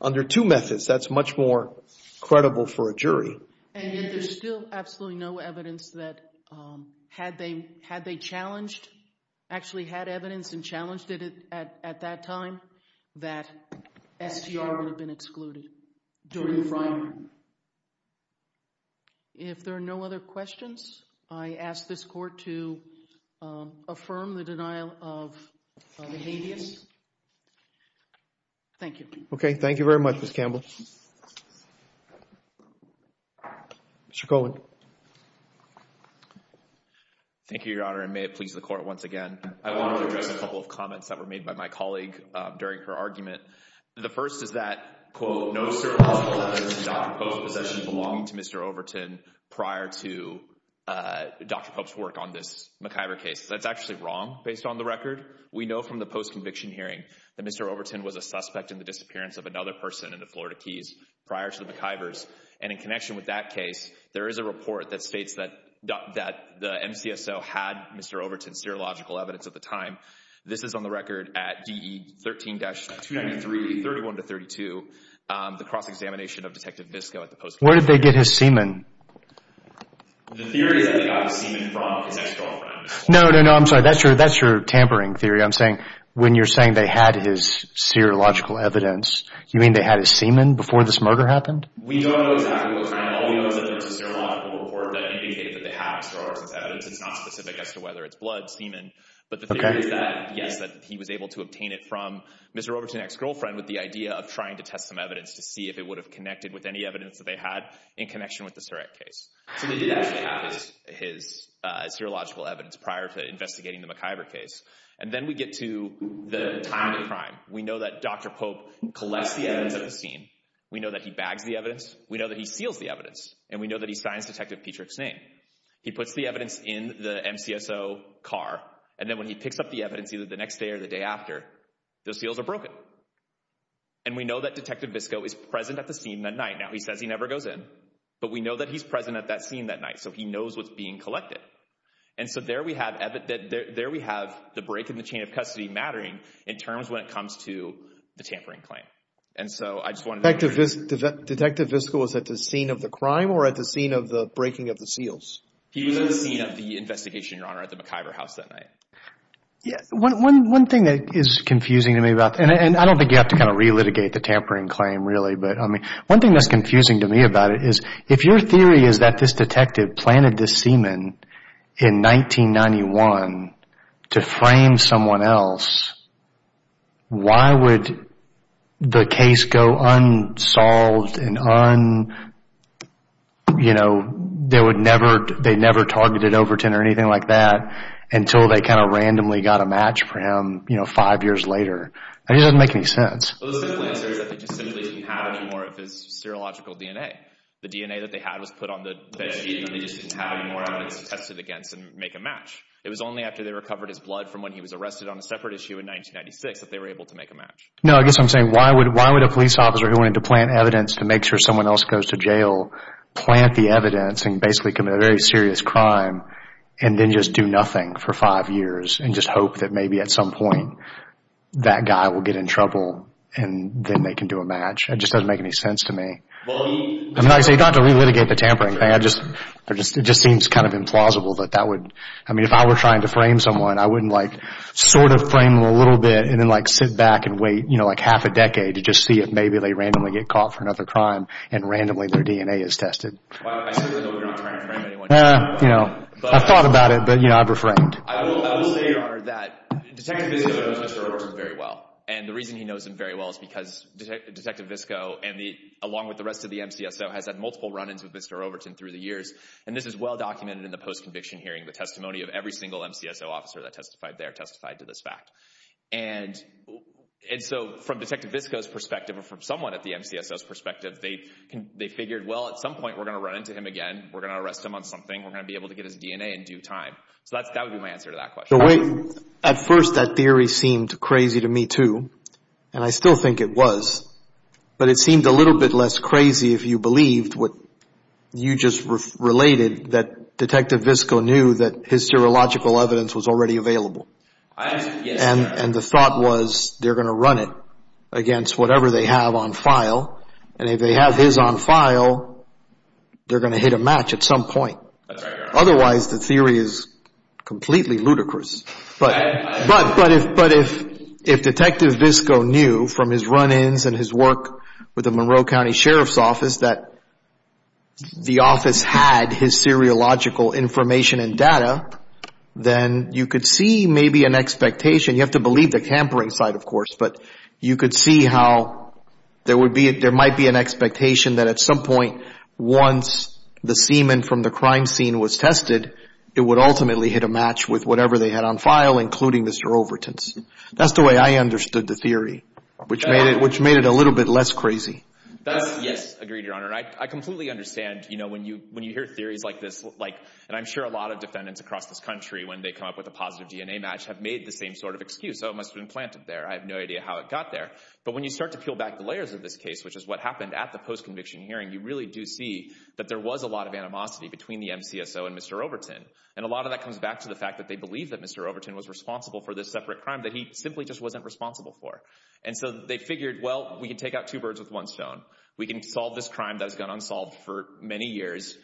under two methods. That's much more credible for a jury. And yet there's still absolutely no evidence that had they challenged, actually had evidence and challenged it at that time, that STR would have been excluded during the Frey hearing. If there are no other questions, I ask this Court to affirm the denial of the habeas. Thank you. Okay, thank you very much, Ms. Campbell. Mr. Coleman. Thank you, Your Honor, and may it please the Court once again. I want to address a couple of comments that were made by my colleague during her argument. The first is that, quote, no serological evidence in Dr. Pope's possession belonged to Mr. Overton prior to Dr. Pope's work on this McIver case. That's actually wrong based on the record. We know from the post-conviction hearing that Mr. Overton was a suspect in the disappearance of another person in the Florida Keys prior to the McIvers. And in connection with that case, there is a report that states that the MCSO had Mr. Overton's serological evidence at the time. This is on the record at DE 13-293, 31-32, the cross-examination of Detective Visco at the post-conviction hearing. Where did they get his semen? The theory is that they got his semen from his ex-girlfriend. No, no, no, I'm sorry. That's your tampering theory. I'm saying when you're saying they had his serological evidence, you mean they had his semen before this murder happened? We don't know exactly what's going on. All we know is that there was a serological report that indicated that they had Mr. Overton's evidence. It's not specific as to whether it's blood, semen. But the theory is that, yes, that he was able to obtain it from Mr. Overton's ex-girlfriend with the idea of trying to test some evidence to see if it would have connected with any evidence that they had in connection with this direct case. So they did actually have his serological evidence prior to investigating the McIver case. And then we get to the time of the crime. We know that Dr. Pope collects the evidence at the scene. We know that he bags the evidence. We know that he seals the evidence. And we know that he signs Detective Petrick's name. He puts the evidence in the MCSO car. And then when he picks up the evidence, either the next day or the day after, the seals are broken. And we know that Detective Visco is present at the scene that night. Now, he says he never goes in. But we know that he's present at that scene that night. So he knows what's being collected. And so there we have the break in the chain of custody mattering in terms when it comes to the tampering claim. And so I just wanted to make sure. Detective Visco was at the scene of the crime or at the scene of the breaking of the seals? He was at the scene of the investigation, Your Honor, at the McIver house that night. Yeah. One thing that is confusing to me about – and I don't think you have to kind of relitigate the tampering claim, really. But, I mean, one thing that's confusing to me about it is if your theory is that this detective planted this semen in 1991 to frame someone else, why would the case go unsolved and, you know, they never targeted Overton or anything like that until they kind of randomly got a match for him, you know, five years later? I mean, it doesn't make any sense. Well, the simple answer is that they just simply didn't have any more of his serological DNA. The DNA that they had was put on the bed sheet and they just didn't have any more evidence to test it against and make a match. It was only after they recovered his blood from when he was arrested on a separate issue in 1996 that they were able to make a match. No, I guess what I'm saying, why would a police officer who wanted to plant evidence to make sure someone else goes to jail plant the evidence and basically commit a very serious crime and then just do nothing for five years and just hope that maybe at some point that guy will get in trouble and then they can do a match? It just doesn't make any sense to me. Well, he – I'm not saying – you don't have to relitigate the tampering thing. It just seems kind of implausible that that would – I mean, if I were trying to frame someone, I wouldn't like sort of frame them a little bit and then like sit back and wait, you know, like half a decade to just see if maybe they randomly get caught for another crime and randomly their DNA is tested. I simply know you're not trying to frame anyone. I've thought about it, but, you know, I've reframed. I will say, Your Honor, that Detective Visco knows Mr. Overton very well. And the reason he knows him very well is because Detective Visco, along with the rest of the MCSO, has had multiple run-ins with Mr. Overton through the years. And this is well documented in the post-conviction hearing, the testimony of every single MCSO officer that testified there testified to this fact. And so from Detective Visco's perspective or from someone at the MCSO's perspective, they figured, well, at some point we're going to run into him again. We're going to arrest him on something. We're going to be able to get his DNA in due time. So that would be my answer to that question. At first, that theory seemed crazy to me too, and I still think it was. But it seemed a little bit less crazy if you believed what you just related, that Detective Visco knew that his serological evidence was already available. And the thought was they're going to run it against whatever they have on file. And if they have his on file, they're going to hit a match at some point. Otherwise, the theory is completely ludicrous. But if Detective Visco knew from his run-ins and his work with the Monroe County Sheriff's Office that the office had his seriological information and data, then you could see maybe an expectation. You have to believe the tampering side, of course, but you could see how there might be an expectation that at some point once the semen from the crime scene was tested, it would ultimately hit a match with whatever they had on file, including Mr. Overton's. That's the way I understood the theory, which made it a little bit less crazy. Yes. Agreed, Your Honor. I completely understand when you hear theories like this. And I'm sure a lot of defendants across this country, when they come up with a positive DNA match, have made the same sort of excuse. Oh, it must have been planted there. I have no idea how it got there. But when you start to peel back the layers of this case, which is what happened at the post-conviction hearing, you really do see that there was a lot of animosity between the MCSO and Mr. Overton. And a lot of that comes back to the fact that they believe that Mr. Overton was responsible for this separate crime that he simply just wasn't responsible for. And so they figured, well, we can take out two birds with one stone. We can solve this crime that has gone unsolved for many years.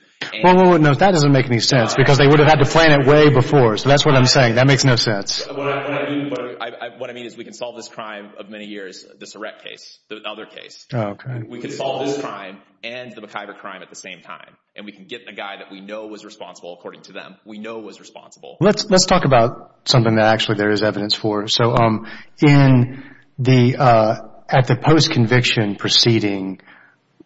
Well, no, that doesn't make any sense, because they would have had to plan it way before. So that's what I'm saying. That makes no sense. What I mean is we can solve this crime of many years, this Eret case, the other case. Oh, okay. We can solve this crime and the McIver crime at the same time. And we can get the guy that we know was responsible according to them. We know was responsible. Let's talk about something that actually there is evidence for. So at the post-conviction proceeding,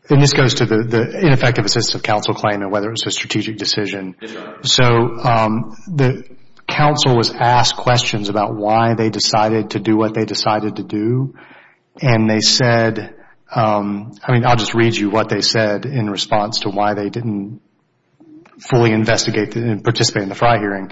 and this goes to the ineffective assistance of counsel claim and whether it was a strategic decision. So the counsel was asked questions about why they decided to do what they decided to do. And they said, I mean, I'll just read you what they said in response to why they didn't fully investigate and participate in the FRI hearing.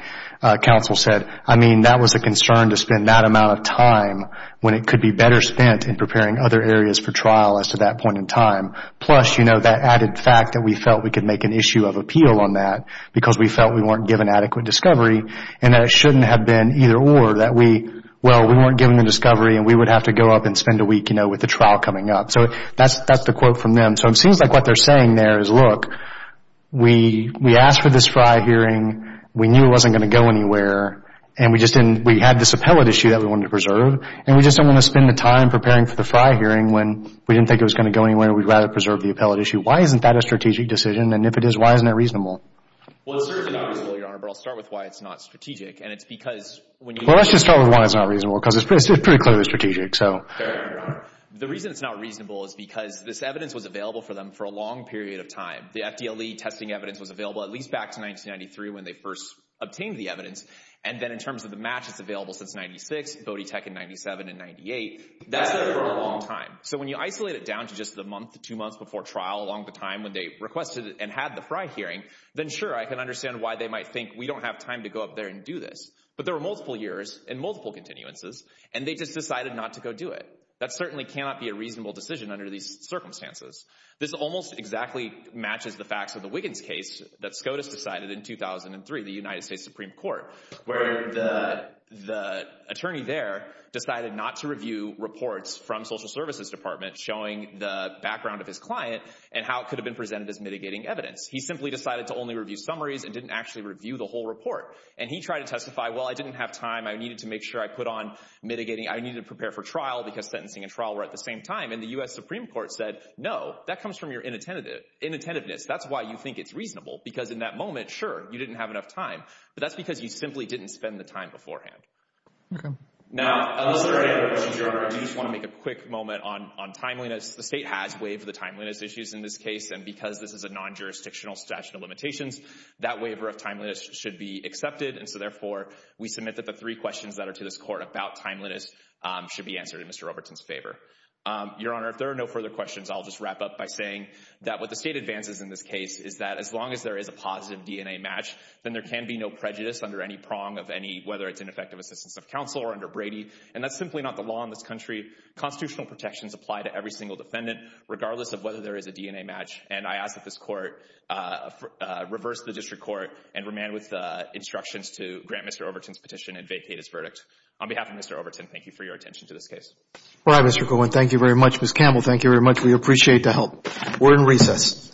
Counsel said, I mean, that was a concern to spend that amount of time when it could be better spent in preparing other areas for trial as to that point in time. Plus, you know, that added fact that we felt we could make an issue of appeal on that because we felt we weren't given adequate discovery, and that it shouldn't have been either or that we, well, we weren't given the discovery and we would have to go up and spend a week, you know, with the trial coming up. So that's the quote from them. So it seems like what they're saying there is, look, we asked for this FRI hearing. We knew it wasn't going to go anywhere. And we just didn't – we had this appellate issue that we wanted to preserve. And we just don't want to spend the time preparing for the FRI hearing when we didn't think it was going to go anywhere and we'd rather preserve the appellate issue. Why isn't that a strategic decision? And if it is, why isn't it reasonable? Well, it's certainly not reasonable, Your Honor, but I'll start with why it's not strategic. And it's because when you – Well, let's just start with why it's not reasonable because it's pretty clearly strategic. Fair enough, Your Honor. The reason it's not reasonable is because this evidence was available for them for a long period of time. The FDLE testing evidence was available at least back to 1993 when they first obtained the evidence. And then in terms of the match, it's available since 96, BODETEC in 97 and 98. That's for a long time. So when you isolate it down to just the month, two months before trial, along the time when they requested and had the FRI hearing, then sure, I can understand why they might think we don't have time to go up there and do this. But there were multiple years and multiple continuances, and they just decided not to go do it. That certainly cannot be a reasonable decision under these circumstances. This almost exactly matches the facts of the Wiggins case that SCOTUS decided in 2003, the United States Supreme Court, where the attorney there decided not to review reports from Social Services Department showing the background of his client and how it could have been presented as mitigating evidence. He simply decided to only review summaries and didn't actually review the whole report. And he tried to testify, well, I didn't have time. I needed to make sure I put on mitigating. I needed to prepare for trial because sentencing and trial were at the same time. And the U.S. Supreme Court said, no, that comes from your inattentiveness. That's why you think it's reasonable because in that moment, sure, you didn't have enough time. But that's because you simply didn't spend the time beforehand. Okay. Now, I just want to make a quick moment on timeliness. The state has waived the timeliness issues in this case, and because this is a non-jurisdictional statute of limitations, that waiver of timeliness should be accepted. And so, therefore, we submit that the three questions that are to this court about timeliness should be answered in Mr. Robertson's favor. Your Honor, if there are no further questions, I'll just wrap up by saying that what the state advances in this case is that as long as there is a positive DNA match, then there can be no prejudice under any prong of any, whether it's ineffective assistance of counsel or under Brady. And that's simply not the law in this country. Constitutional protections apply to every single defendant, regardless of whether there is a DNA match. And I ask that this court reverse the district court and remand with instructions to grant Mr. Overton's petition and vacate his verdict. On behalf of Mr. Overton, thank you for your attention to this case. All right, Mr. Cohen. Thank you very much. Ms. Campbell, thank you very much. We appreciate the help. We're in recess. All rise.